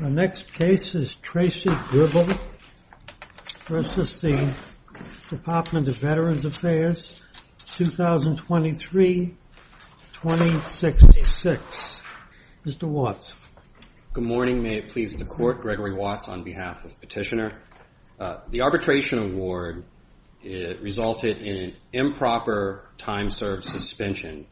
The next case is Tracy Gribble v. Department of Veterans Affairs, 2023-2066. Mr. Watts. Good morning. May it please the Court, Gregory Watts on behalf of Petitioner. The arbitration award resulted in improper time-served suspension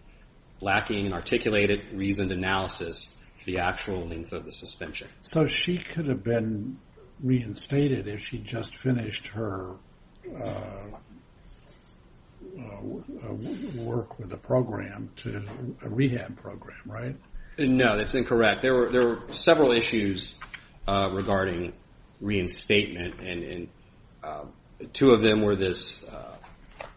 lacking an articulated, reasoned analysis of the actual length of the suspension. So she could have been reinstated if she'd just finished her work with a program, a rehab program, right? No, that's incorrect. There were several issues regarding reinstatement. And two of them were this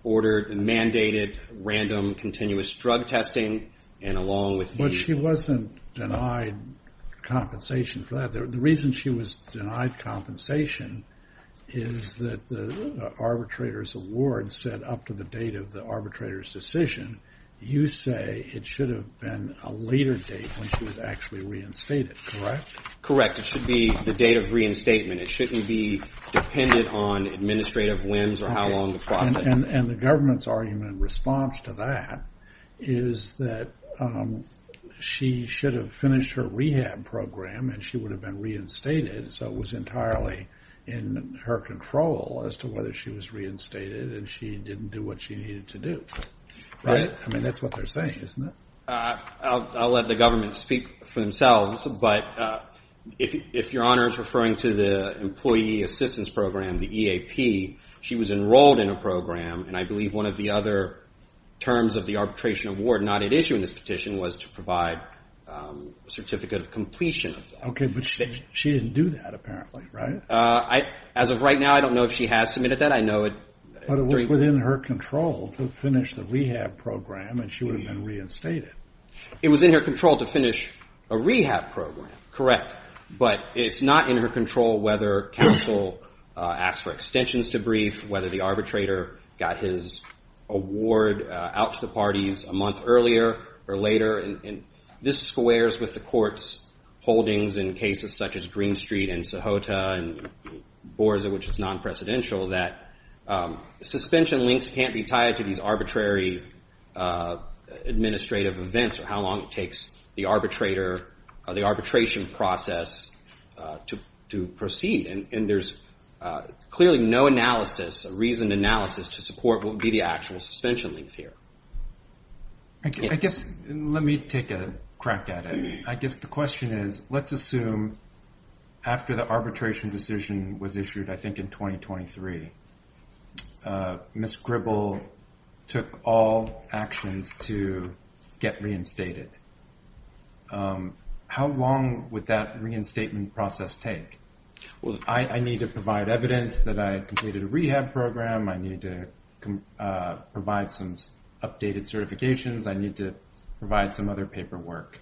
ordered, mandated, random, continuous drug testing, and along with the... She wasn't denied compensation for that. The reason she was denied compensation is that the arbitrator's award set up to the date of the arbitrator's decision. You say it should have been a later date when she was actually reinstated, correct? Correct. It should be the date of reinstatement. It shouldn't be dependent on administrative whims or how long the process... And the government's argument in response to that is that she should have finished her rehab program and she would have been reinstated, so it was entirely in her control as to whether she was reinstated and she didn't do what she needed to do. Right. I mean, that's what they're saying, isn't it? I'll let the government speak for themselves, but if Your Honor is referring to the Employee Assistance Program, the EAP, she was enrolled in a program and I believe one of the other terms of the arbitration award not at issue in this petition was to provide a certificate of completion. Okay, but she didn't do that apparently, right? As of right now, I don't know if she has submitted that. I know it... It was in her control to finish the rehab program and she would have been reinstated. It was in her control to finish a rehab program, correct, but it's not in her control whether counsel asked for extensions to brief, whether the arbitrator got his award out to the parties a month earlier or later. And this squares with the court's holdings in cases such as Green Street and Sohota and Borza, which is non-presidential, that suspension links can't be tied to these arbitrary administrative events or how long it takes the arbitrator or the arbitration process to proceed. And there's clearly no analysis, a reasoned analysis to support what would be the actual suspension links here. I guess, let me take a crack at it. I guess the question is, let's assume after the arbitration decision was issued, I think in 2023, Ms. Gribble took all actions to get reinstated. How long would that reinstatement process take? I need to provide evidence that I completed a rehab program. I need to provide some updated certifications. I need to provide some other paperwork.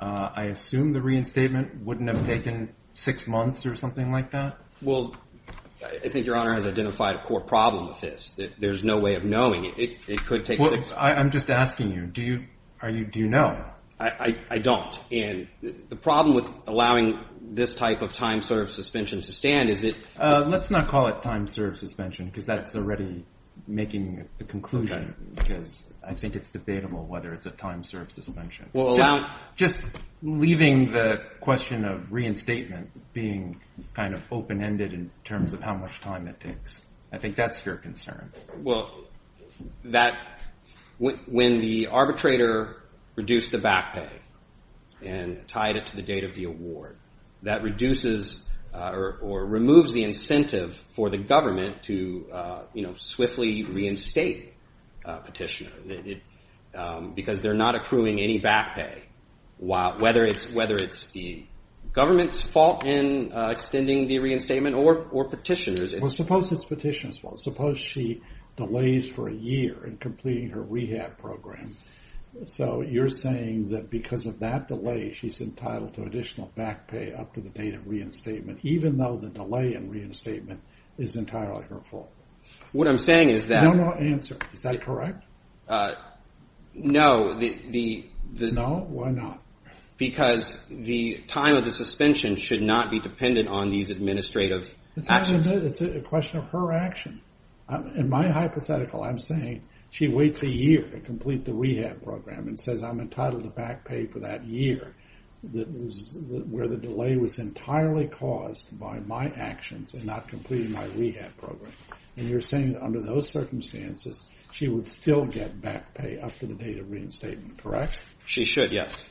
I assume the reinstatement wouldn't have taken six months or something like that? Well, I think Your Honor has identified a core problem with this. There's no way of knowing. It could take six months. I'm just asking you, do you know? I don't. The problem with allowing this type of time-served suspension to stand is that Let's not call it time-served suspension because that's already making the conclusion because I think it's debatable whether it's a time-served suspension. Just leaving the question of reinstatement being kind of open-ended in terms of how much time it takes. I think that's your concern. Well, when the arbitrator reduced the back pay and tied it to the date of the award, that reduces or removes the incentive for the government to swiftly reinstate a petitioner because they're not accruing any back pay, whether it's the government's fault in extending the reinstatement or petitioners. Well, suppose it's petitioners' fault. Suppose she delays for a year in completing her rehab program. So you're saying that because of that delay, she's entitled to additional back pay up to the date of reinstatement, even though the delay in reinstatement is entirely her fault. What I'm saying is that No, no answer. Is that correct? No. No? Why not? Because the time of the suspension should not be dependent on these administrative actions. It's a question of her action. In my hypothetical, I'm saying she waits a year to complete the rehab program and says I'm entitled to back pay for that year where the delay was entirely caused by my actions and not completing my rehab program. And you're saying under those circumstances, she would still get back pay up to the date of reinstatement, correct? She should, yes.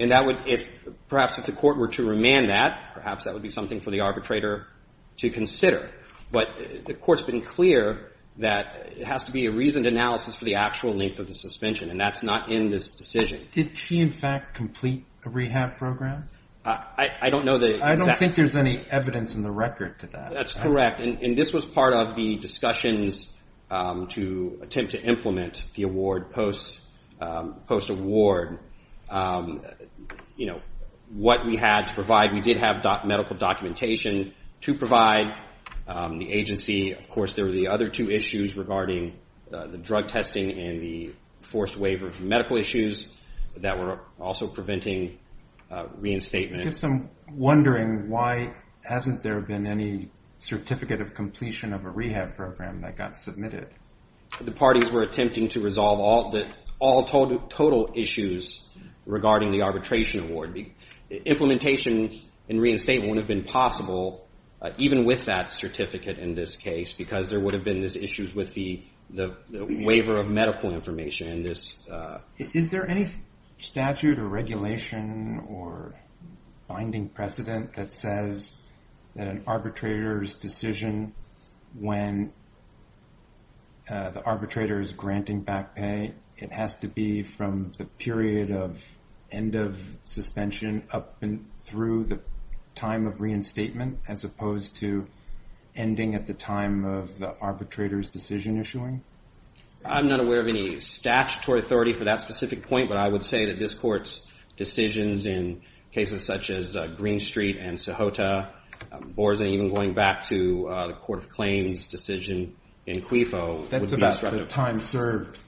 And that would, perhaps if the court were to remand that, perhaps that would be something for the arbitrator to consider. But the court's been clear that it has to be a reasoned analysis for the actual length of the suspension, and that's not in this decision. Did she, in fact, complete a rehab program? I don't know the exact. I don't think there's any evidence in the record to that. That's correct. And this was part of the discussions to attempt to implement the award post-award. You know, what we had to provide, we did have medical documentation to provide the agency. Of course, there were the other two issues regarding the drug testing and the forced waiver from medical issues that were also preventing reinstatement. I guess I'm wondering why hasn't there been any certificate of completion of a rehab program that got submitted? The parties were attempting to resolve all total issues regarding the arbitration award. Implementation and reinstatement wouldn't have been possible, even with that certificate in this case, because there would have been these issues with the waiver of medical information. Is there any statute or regulation or binding precedent that says that an arbitrator's decision, when the arbitrator is granting back pay, it has to be from the period of end of suspension up through the time of reinstatement, as opposed to ending at the time of the arbitrator's decision issuing? I'm not aware of any statutory authority for that specific point, but I would say that this Court's decisions in cases such as Green Street and Sohota, or even going back to the Court of Claims' decision in Quifo. That's about the time served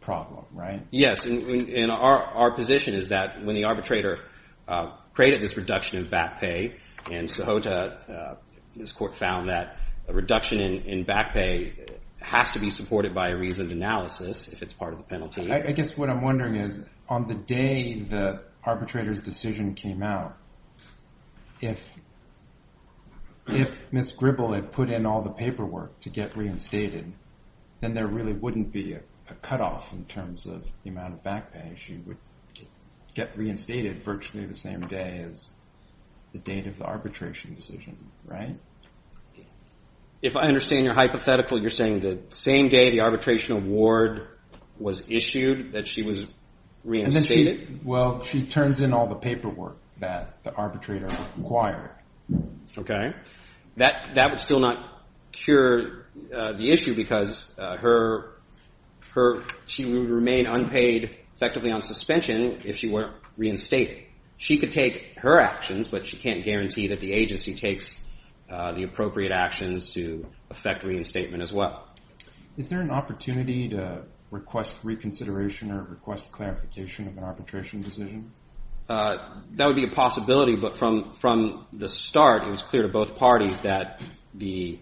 problem, right? Yes, and our position is that when the arbitrator created this reduction in back pay in Sohota, this Court found that a reduction in back pay has to be supported by a reasoned analysis if it's part of the penalty. I guess what I'm wondering is, on the day the arbitrator's decision came out, if Ms. Gribble had put in all the paperwork to get reinstated, then there really wouldn't be a cutoff in terms of the amount of back pay. She would get reinstated virtually the same day as the date of the arbitration decision, right? If I understand your hypothetical, you're saying the same day the arbitration award was issued that she was reinstated? Well, she turns in all the paperwork that the arbitrator required. Okay. That would still not cure the issue because she would remain unpaid effectively on suspension if she were reinstated. She could take her actions, but she can't guarantee that the agency takes the appropriate actions to effect reinstatement as well. Is there an opportunity to request reconsideration or request clarification of an arbitration decision? That would be a possibility, but from the start, it was clear to both parties that the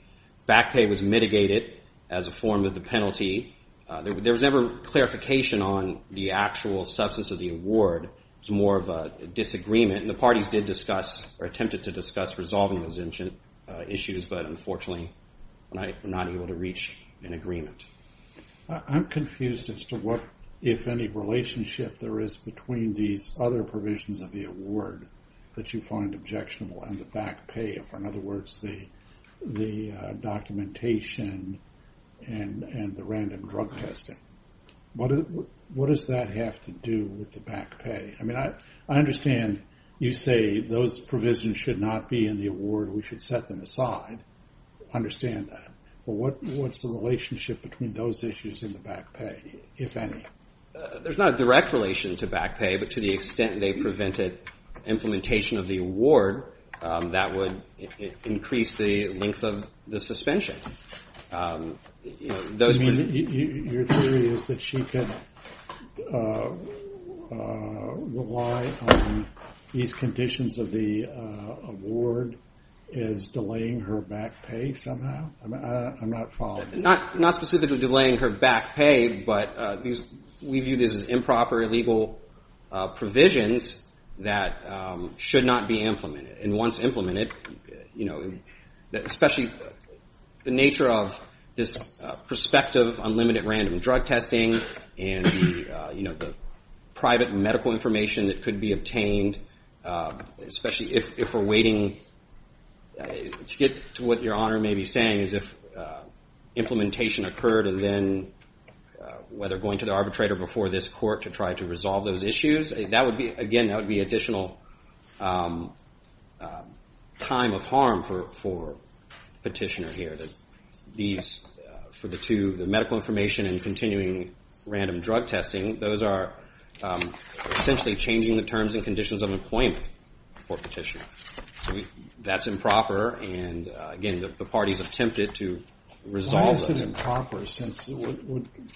back pay was mitigated as a form of the penalty. There was never clarification on the actual substance of the award. It was more of a disagreement, and the parties did discuss or attempted to discuss resolving those issues, but unfortunately were not able to reach an agreement. I'm confused as to what, if any, relationship there is between these other provisions of the award that you find objectionable and the back pay. In other words, the documentation and the random drug testing. What does that have to do with the back pay? I mean, I understand you say those provisions should not be in the award. We should set them aside. I understand that, but what's the relationship between those issues and the back pay, if any? There's not a direct relation to back pay, but to the extent they prevented implementation of the award, that would increase the length of the suspension. Your theory is that she could rely on these conditions of the award as delaying her back pay somehow? I'm not following. Not specifically delaying her back pay, but we view this as improper, illegal provisions that should not be implemented. Once implemented, especially the nature of this prospective unlimited random drug testing and the private medical information that could be obtained, especially if we're waiting to get to what Your Honor may be saying, is if implementation occurred and then whether going to the arbitrator before this court to try to resolve those issues, again, that would be additional time of harm for Petitioner here. For the medical information and continuing random drug testing, those are essentially changing the terms and conditions of employment for Petitioner. That's improper, and again, the parties attempted to resolve it. Why is it improper since what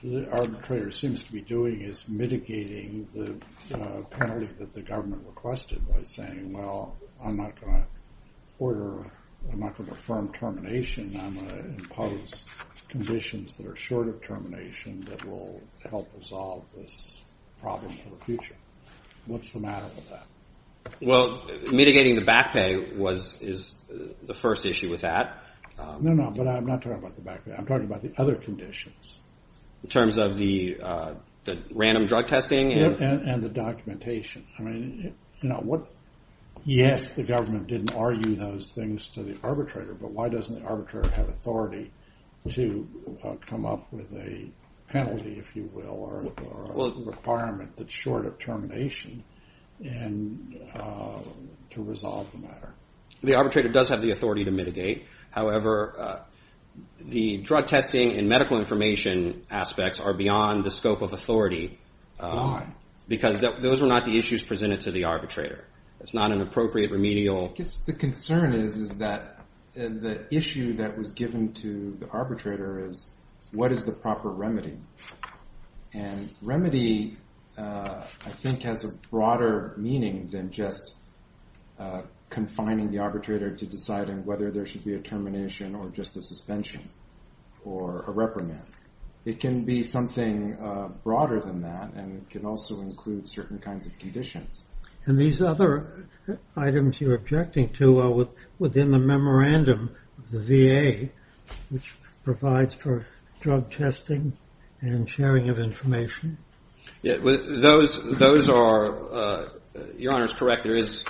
the arbitrator seems to be doing is mitigating the penalty that the government requested by saying, well, I'm not going to order, I'm not going to affirm termination, I'm going to impose conditions that are short of termination that will help resolve this problem for the future. What's the matter with that? Well, mitigating the back pay is the first issue with that. No, no, but I'm not talking about the back pay. I'm talking about the other conditions. In terms of the random drug testing? Yeah, and the documentation. I mean, yes, the government didn't argue those things to the arbitrator, but why doesn't the arbitrator have authority to come up with a penalty, if you will, or a requirement that's short of termination to resolve the matter? The arbitrator does have the authority to mitigate. However, the drug testing and medical information aspects are beyond the scope of authority. Why? Because those are not the issues presented to the arbitrator. It's not an appropriate remedial... I guess the concern is that the issue that was given to the arbitrator is what is the proper remedy? And remedy, I think, has a broader meaning than just confining the arbitrator to deciding whether there should be a termination or just a suspension or a reprimand. It can be something broader than that and can also include certain kinds of conditions. And these other items you're objecting to are within the memorandum of the VA, which provides for drug testing and sharing of information? Those are... Your Honor is correct. There is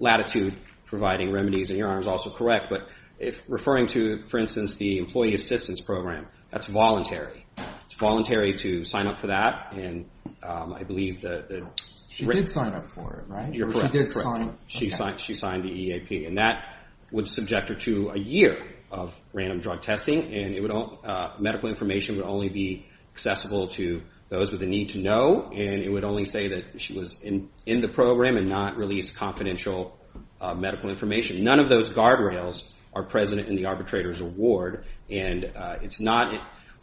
latitude providing remedies, and Your Honor is also correct. But if referring to, for instance, the employee assistance program, that's voluntary. It's voluntary to sign up for that, and I believe that... She did sign up for it, right? You're correct. She did sign... She signed the EAP, and that would subject her to a year of random drug testing, and medical information would only be accessible to those with a need to know, and it would only say that she was in the program and not release confidential medical information. None of those guardrails are present in the arbitrator's award, and it's not...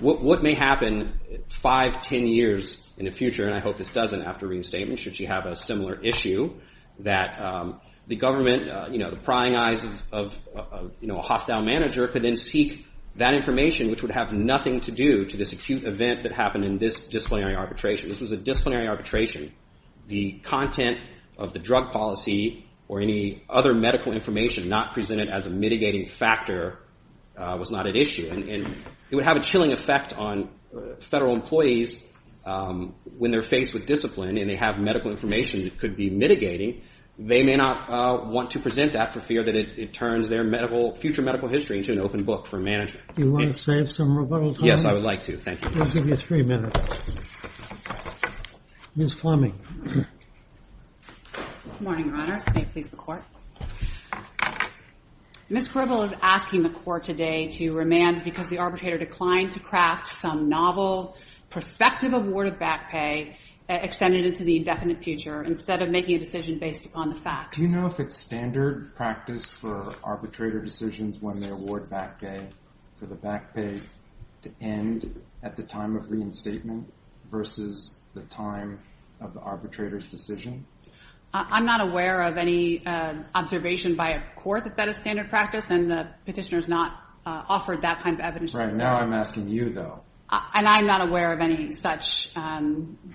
What may happen 5, 10 years in the future, and I hope this doesn't after reinstatement, should she have a similar issue, that the government, the prying eyes of a hostile manager, could then seek that information, which would have nothing to do to this acute event that happened in this disciplinary arbitration. This was a disciplinary arbitration. The content of the drug policy or any other medical information not presented as a mitigating factor was not at issue, and it would have a chilling effect on federal employees when they're faced with discipline and they have medical information that could be mitigating. They may not want to present that for fear that it turns their medical... future medical history into an open book for management. Do you want to save some rebuttal time? Yes, I would like to. Thank you. We'll give you three minutes. Ms. Fleming. Good morning, Your Honors. May it please the Court? Ms. Quribble is asking the Court today to remand because the arbitrator declined to craft some novel prospective award of back pay extended into the indefinite future instead of making a decision based upon the facts. Do you know if it's standard practice for arbitrator decisions when they award back pay for the back pay to end at the time of reinstatement versus the time of the arbitrator's decision? I'm not aware of any observation by a court that that is standard practice, and the petitioner has not offered that kind of evidence. Right. Now I'm asking you, though. And I'm not aware of any such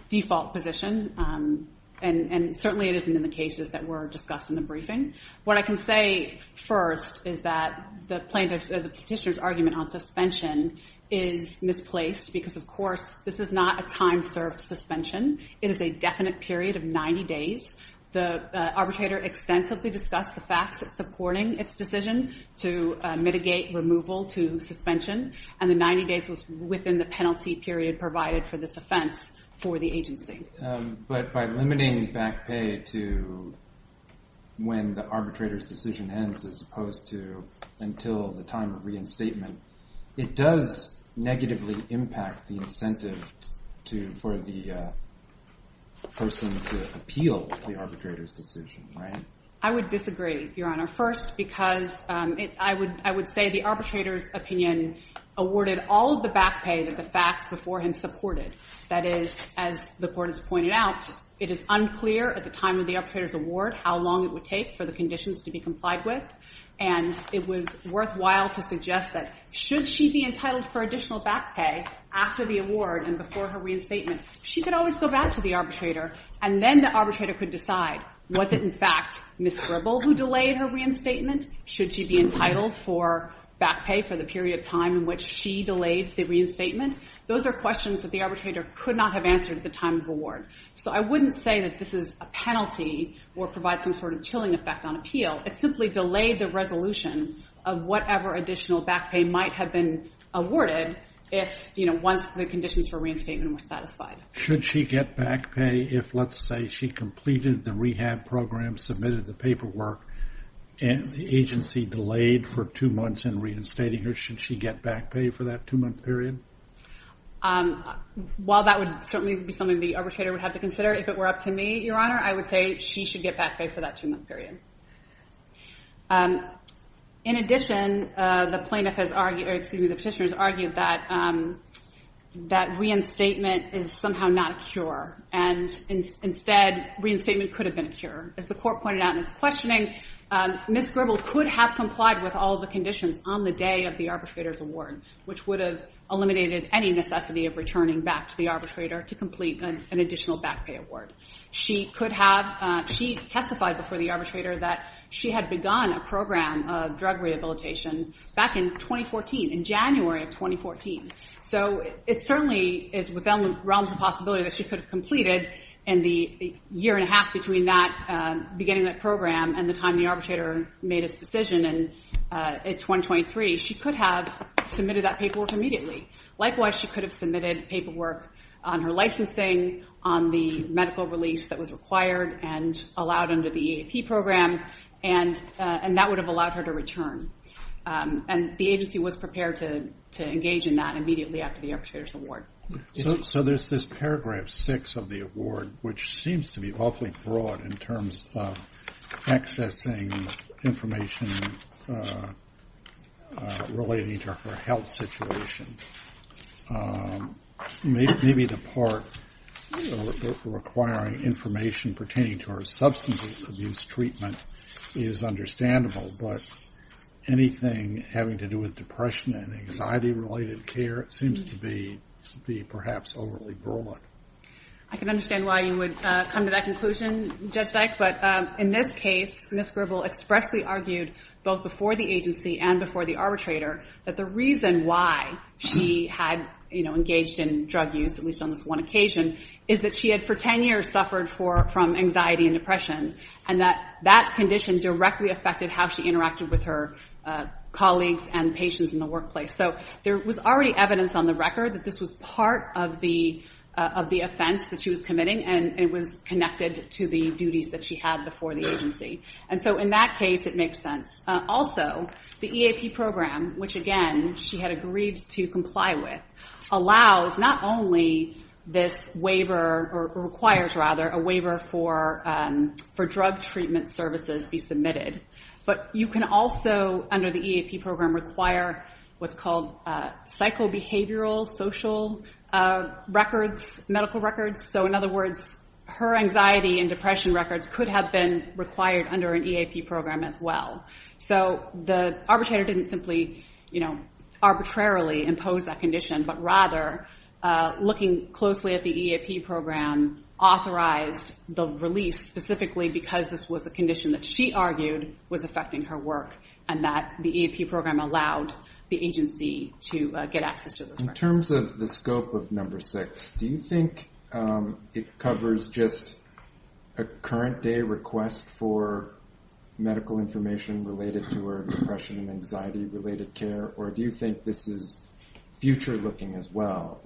default position, and certainly it isn't in the cases that were discussed in the briefing. What I can say first is that the petitioner's argument on suspension is misplaced because, of course, this is not a time-served suspension. It is a definite period of 90 days. The arbitrator extensively discussed the facts supporting its decision to mitigate removal to suspension, and the 90 days was within the penalty period provided for this offense for the agency. But by limiting back pay to when the arbitrator's decision ends as opposed to until the time of reinstatement, it does negatively impact the incentive for the person to appeal the arbitrator's decision, right? I would disagree, Your Honor, first because I would say the arbitrator's opinion awarded all of the back pay that the facts before him supported. That is, as the court has pointed out, it is unclear at the time of the arbitrator's award how long it would take for the conditions to be complied with, and it was worthwhile to suggest that should she be entitled for additional back pay after the award and before her reinstatement, she could always go back to the arbitrator, and then the arbitrator could decide, was it in fact Ms. Gribble who delayed her reinstatement? Should she be entitled for back pay for the period of time in which she delayed the reinstatement? Those are questions that the arbitrator could not have answered at the time of award. So I wouldn't say that this is a penalty or provides some sort of chilling effect on appeal. It simply delayed the resolution of whatever additional back pay might have been awarded once the conditions for reinstatement were satisfied. Should she get back pay if, let's say, she completed the rehab program, submitted the paperwork, and the agency delayed for two months in reinstating her, should she get back pay for that two-month period? While that would certainly be something the arbitrator would have to consider if it were up to me, Your Honor, I would say she should get back pay for that two-month period. In addition, the plaintiff has argued, or excuse me, the petitioner has argued that reinstatement is somehow not a cure, and instead reinstatement could have been a cure. As the court pointed out in its questioning, Ms. Gribble could have complied with all the conditions on the day of the arbitrator's award, which would have eliminated any necessity of returning back to the arbitrator to complete an additional back pay award. She testified before the arbitrator that she had begun a program of drug rehabilitation back in 2014, in January of 2014. So it certainly is within the realms of possibility that she could have completed in the year and a half between the beginning of that program and the time the arbitrator made its decision in 2023. She could have submitted that paperwork immediately. Likewise, she could have submitted paperwork on her licensing, on the medical release that was required and allowed under the EAP program, and that would have allowed her to return. And the agency was prepared to engage in that immediately after the arbitrator's award. So there's this paragraph six of the award, which seems to be awfully broad in terms of accessing information relating to her health situation. Maybe the part requiring information pertaining to her substance abuse treatment is understandable, but anything having to do with depression and anxiety-related care seems to be perhaps overly broad. I can understand why you would come to that conclusion, Judge Dyke. But in this case, Ms. Gribble expressly argued both before the agency and before the arbitrator that the reason why she had engaged in drug use, at least on this one occasion, is that she had for 10 years suffered from anxiety and depression, and that that condition directly affected how she interacted with her colleagues and patients in the workplace. So there was already evidence on the record that this was part of the offense that she was committing, and it was connected to the duties that she had before the agency. And so in that case, it makes sense. Also, the EAP program, which, again, she had agreed to comply with, allows not only this waiver, or requires, rather, a waiver for drug treatment services be submitted, but you can also, under the EAP program, require what's called psychobehavioral social records, medical records. So in other words, her anxiety and depression records could have been required under an EAP program as well. So the arbitrator didn't simply arbitrarily impose that condition, but rather, looking closely at the EAP program, authorized the release, specifically because this was a condition that she argued was affecting her work, and that the EAP program allowed the agency to get access to those records. In terms of the scope of number six, do you think it covers just a current day request for medical information related to her depression and anxiety-related care, or do you think this is future-looking as well?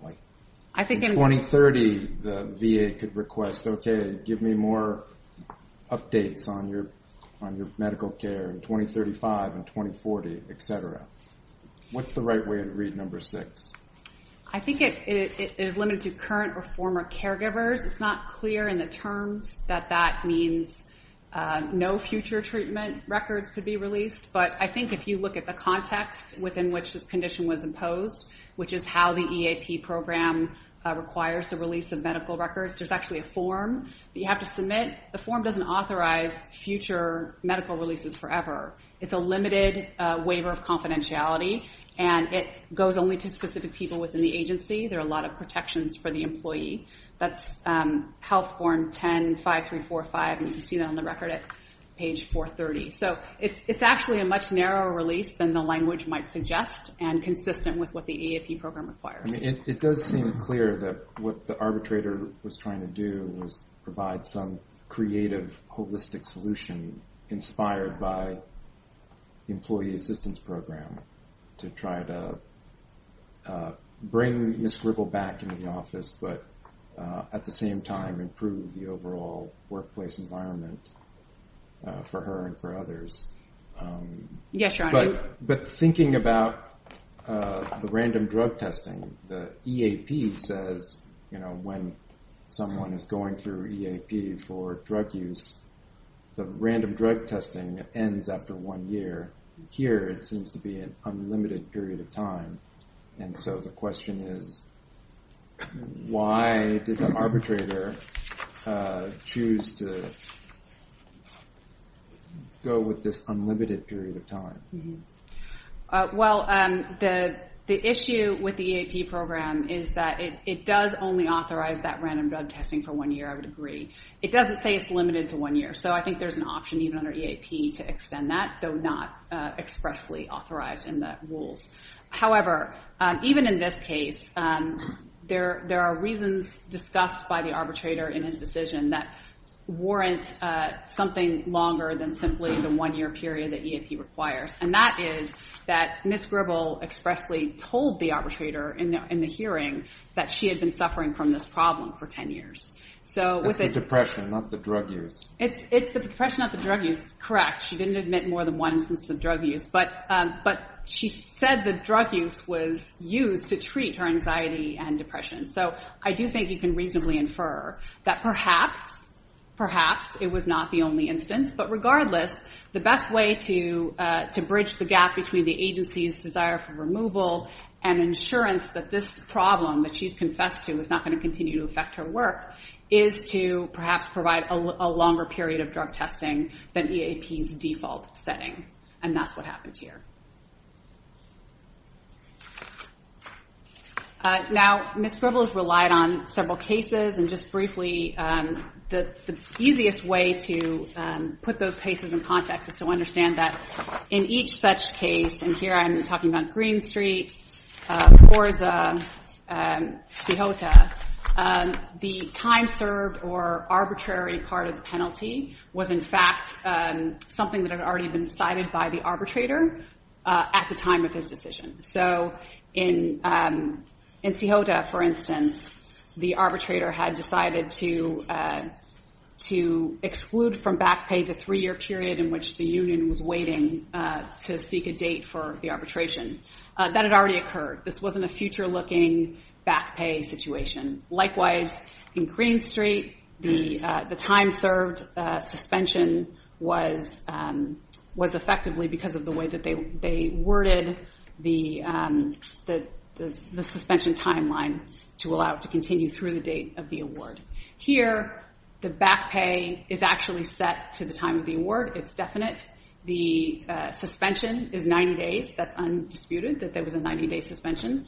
In 2030, the VA could request, okay, give me more updates on your medical care in 2035 and 2040, et cetera. What's the right way to read number six? I think it is limited to current or former caregivers. It's not clear in the terms that that means no future treatment records could be released, but I think if you look at the context within which this condition was imposed, which is how the EAP program requires the release of medical records, there's actually a form that you have to submit. The form doesn't authorize future medical releases forever. It's a limited waiver of confidentiality, and it goes only to specific people within the agency. There are a lot of protections for the employee. That's Health Form 10-5345, and you can see that on the record at page 430. So it's actually a much narrower release than the language might suggest and consistent with what the EAP program requires. It does seem clear that what the arbitrator was trying to do was provide some creative, holistic solution inspired by the Employee Assistance Program to try to bring Ms. Ripple back into the office but at the same time improve the overall workplace environment for her and for others. Yes, your honor. But thinking about the random drug testing, the EAP says, you know, when someone is going through EAP for drug use, the random drug testing ends after one year. Here it seems to be an unlimited period of time, and so the question is, why did the arbitrator choose to go with this unlimited period of time? Well, the issue with the EAP program is that it does only authorize that random drug testing for one year, I would agree. It doesn't say it's limited to one year, so I think there's an option even under EAP to extend that, though not expressly authorized in the rules. However, even in this case, there are reasons discussed by the arbitrator in his decision that warrant something longer than simply the one-year period that EAP requires, and that is that Ms. Ripple expressly told the arbitrator in the hearing that she had been suffering from this problem for 10 years. It's the depression, not the drug use. It's the depression, not the drug use. Correct. She didn't admit more than one instance of drug use, but she said the drug use was used to treat her anxiety and depression. So I do think you can reasonably infer that perhaps, perhaps it was not the only instance, but regardless, the best way to bridge the gap between the agency's desire for removal and insurance that this problem that she's confessed to is not going to continue to affect her work is to perhaps provide a longer period of drug testing than EAP's default setting, and that's what happened here. Now, Ms. Ripple has relied on several cases, and just briefly, the easiest way to put those cases in context is to understand that in each such case, and here I'm talking about Green Street, Forza, Cejota, the time served or arbitrary part of the penalty was, in fact, something that had already been decided by the arbitrator at the time of his decision. So in Cejota, for instance, the arbitrator had decided to exclude from back pay the three-year period in which the union was waiting to speak a date for the arbitration. That had already occurred. This wasn't a future-looking back pay situation. Likewise, in Green Street, the time served suspension was effectively because of the way that they worded the suspension timeline to allow it to continue through the date of the award. Here, the back pay is actually set to the time of the award. It's definite. The suspension is 90 days. That's undisputed, that there was a 90-day suspension.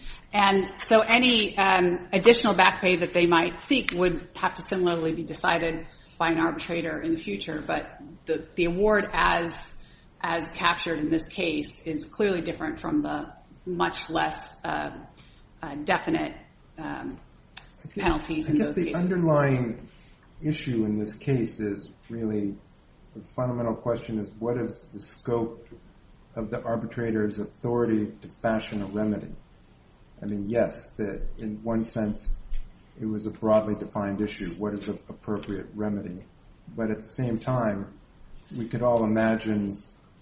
So any additional back pay that they might seek would have to similarly be decided by an arbitrator in the future. But the award as captured in this case is clearly different from the much less definite penalties in those cases. The underlying issue in this case is really, the fundamental question is, what is the scope of the arbitrator's authority to fashion a remedy? I mean, yes, in one sense, it was a broadly defined issue. What is an appropriate remedy? But at the same time, we could all imagine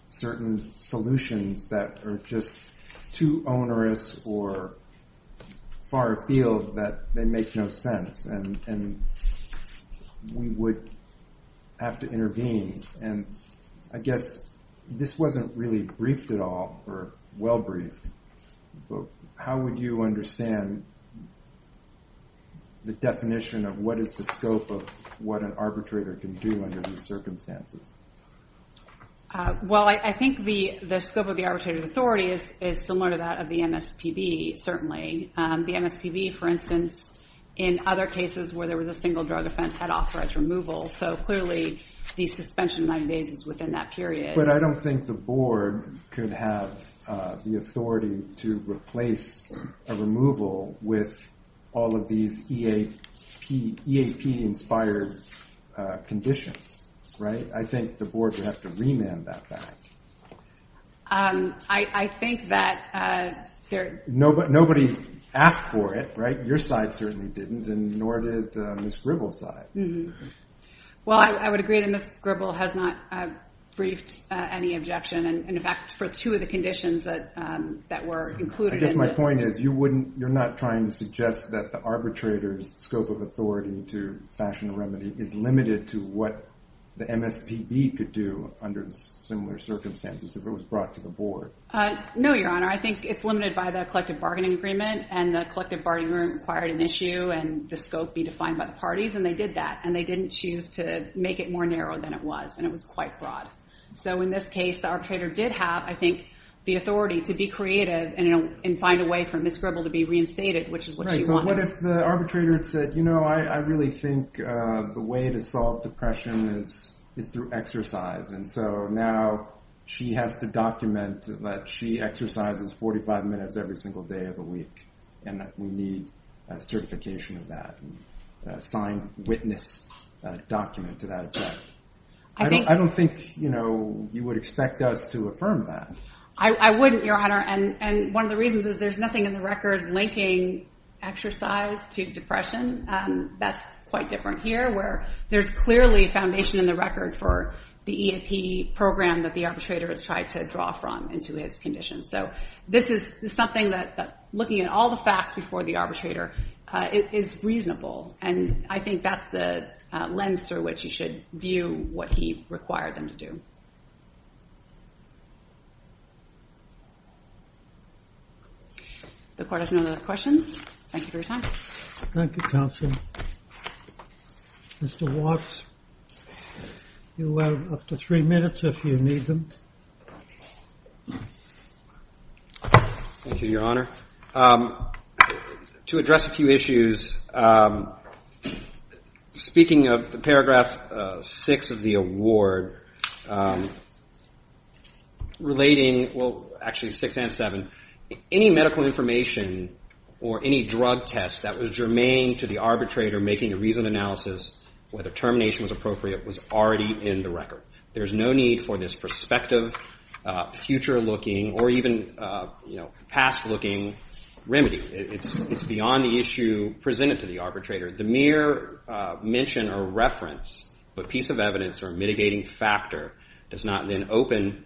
certain solutions that are just too onerous or far afield that they make no sense. And we would have to intervene. And I guess this wasn't really briefed at all or well briefed, but how would you understand the definition of what is the scope of what an arbitrator can do under these circumstances? Well, I think the scope of the arbitrator's authority is similar to that of the MSPB, certainly. The MSPB, for instance, in other cases where there was a single drug offense, had authorized removal. So clearly, the suspension of 90 days is within that period. But I don't think the board could have the authority to replace a removal with all of these EAP-inspired conditions, right? I think the board would have to remand that back. I think that there— Nobody asked for it, right? Your side certainly didn't, and nor did Ms. Gribble's side. Well, I would agree that Ms. Gribble has not briefed any objection. And in fact, for two of the conditions that were included— I guess my point is you wouldn't—you're not trying to suggest that the arbitrator's scope of authority to fashion a remedy is limited to what the MSPB could do under similar circumstances if it was brought to the board. No, Your Honor. I think it's limited by the collective bargaining agreement. And the collective bargaining agreement required an issue and the scope be defined by the parties, and they did that. And they didn't choose to make it more narrow than it was, and it was quite broad. So in this case, the arbitrator did have, I think, the authority to be creative and find a way for Ms. Gribble to be reinstated, which is what she wanted. But what if the arbitrator said, you know, I really think the way to solve depression is through exercise, and so now she has to document that she exercises 45 minutes every single day of the week, and that we need a certification of that, a signed witness document to that effect. I don't think, you know, you would expect us to affirm that. I wouldn't, Your Honor, and one of the reasons is there's nothing in the record linking exercise to depression. That's quite different here where there's clearly a foundation in the record for the EAP program that the arbitrator has tried to draw from into his condition. So this is something that looking at all the facts before the arbitrator is reasonable, and I think that's the lens through which you should view what he required them to do. The court has no other questions. Thank you for your time. Thank you, counsel. Mr. Watts, you have up to three minutes if you need them. Thank you, Your Honor. To address a few issues, speaking of the paragraph 6 of the award, relating, well, actually 6 and 7, any medical information or any drug test that was germane to the arbitrator making a reasoned analysis, whether termination was appropriate, was already in the record. There's no need for this prospective, future-looking, or even, you know, past-looking remedy. It's beyond the issue presented to the arbitrator. The mere mention or reference of a piece of evidence or mitigating factor does not then open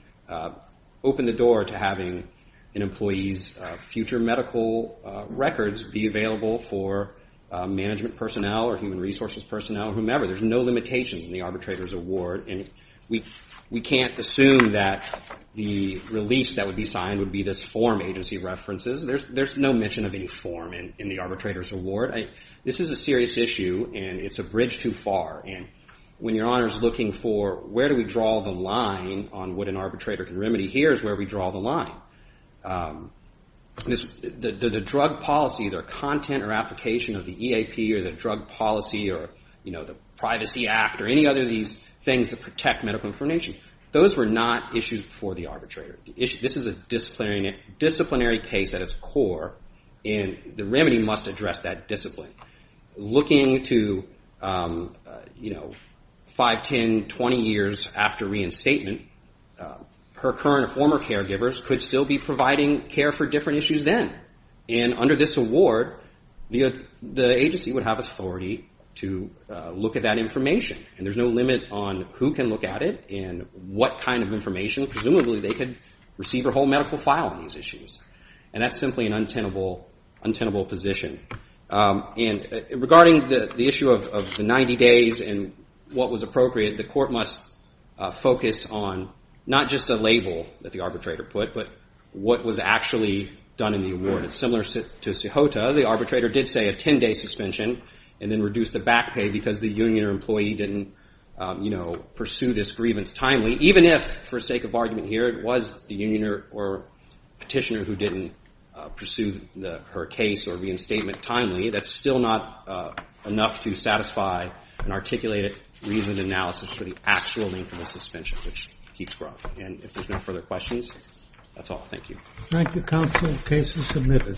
the door to having an employee's future medical records be available for management personnel or human resources personnel, whomever. There's no limitations in the arbitrator's award, and we can't assume that the release that would be signed would be this form agency references. There's no mention of any form in the arbitrator's award. This is a serious issue, and it's a bridge too far, and when Your Honor's looking for where do we draw the line on what an arbitrator can remedy, here's where we draw the line. The drug policy, their content or application of the EAP or the drug policy or, you know, the Privacy Act or any other of these things that protect medical information, those were not issues for the arbitrator. This is a disciplinary case at its core, and the remedy must address that discipline. Looking to, you know, 5, 10, 20 years after reinstatement, her current or former caregivers could still be providing care for different issues then, and under this award, the agency would have authority to look at that information, and there's no limit on who can look at it and what kind of information. Presumably, they could receive a whole medical file on these issues, and that's simply an untenable position. And regarding the issue of the 90 days and what was appropriate, the court must focus on not just a label that the arbitrator put, but what was actually done in the award. It's similar to Cejota. The arbitrator did say a 10-day suspension and then reduced the back pay because the union or employee didn't, you know, pursue this grievance timely, even if, for sake of argument here, it was the union or petitioner who didn't pursue her case or reinstatement timely. That's still not enough to satisfy an articulated reasoned analysis for the actual length of the suspension, which keeps growing. And if there's no further questions, that's all. Thank you. Thank you, counsel. The case is submitted.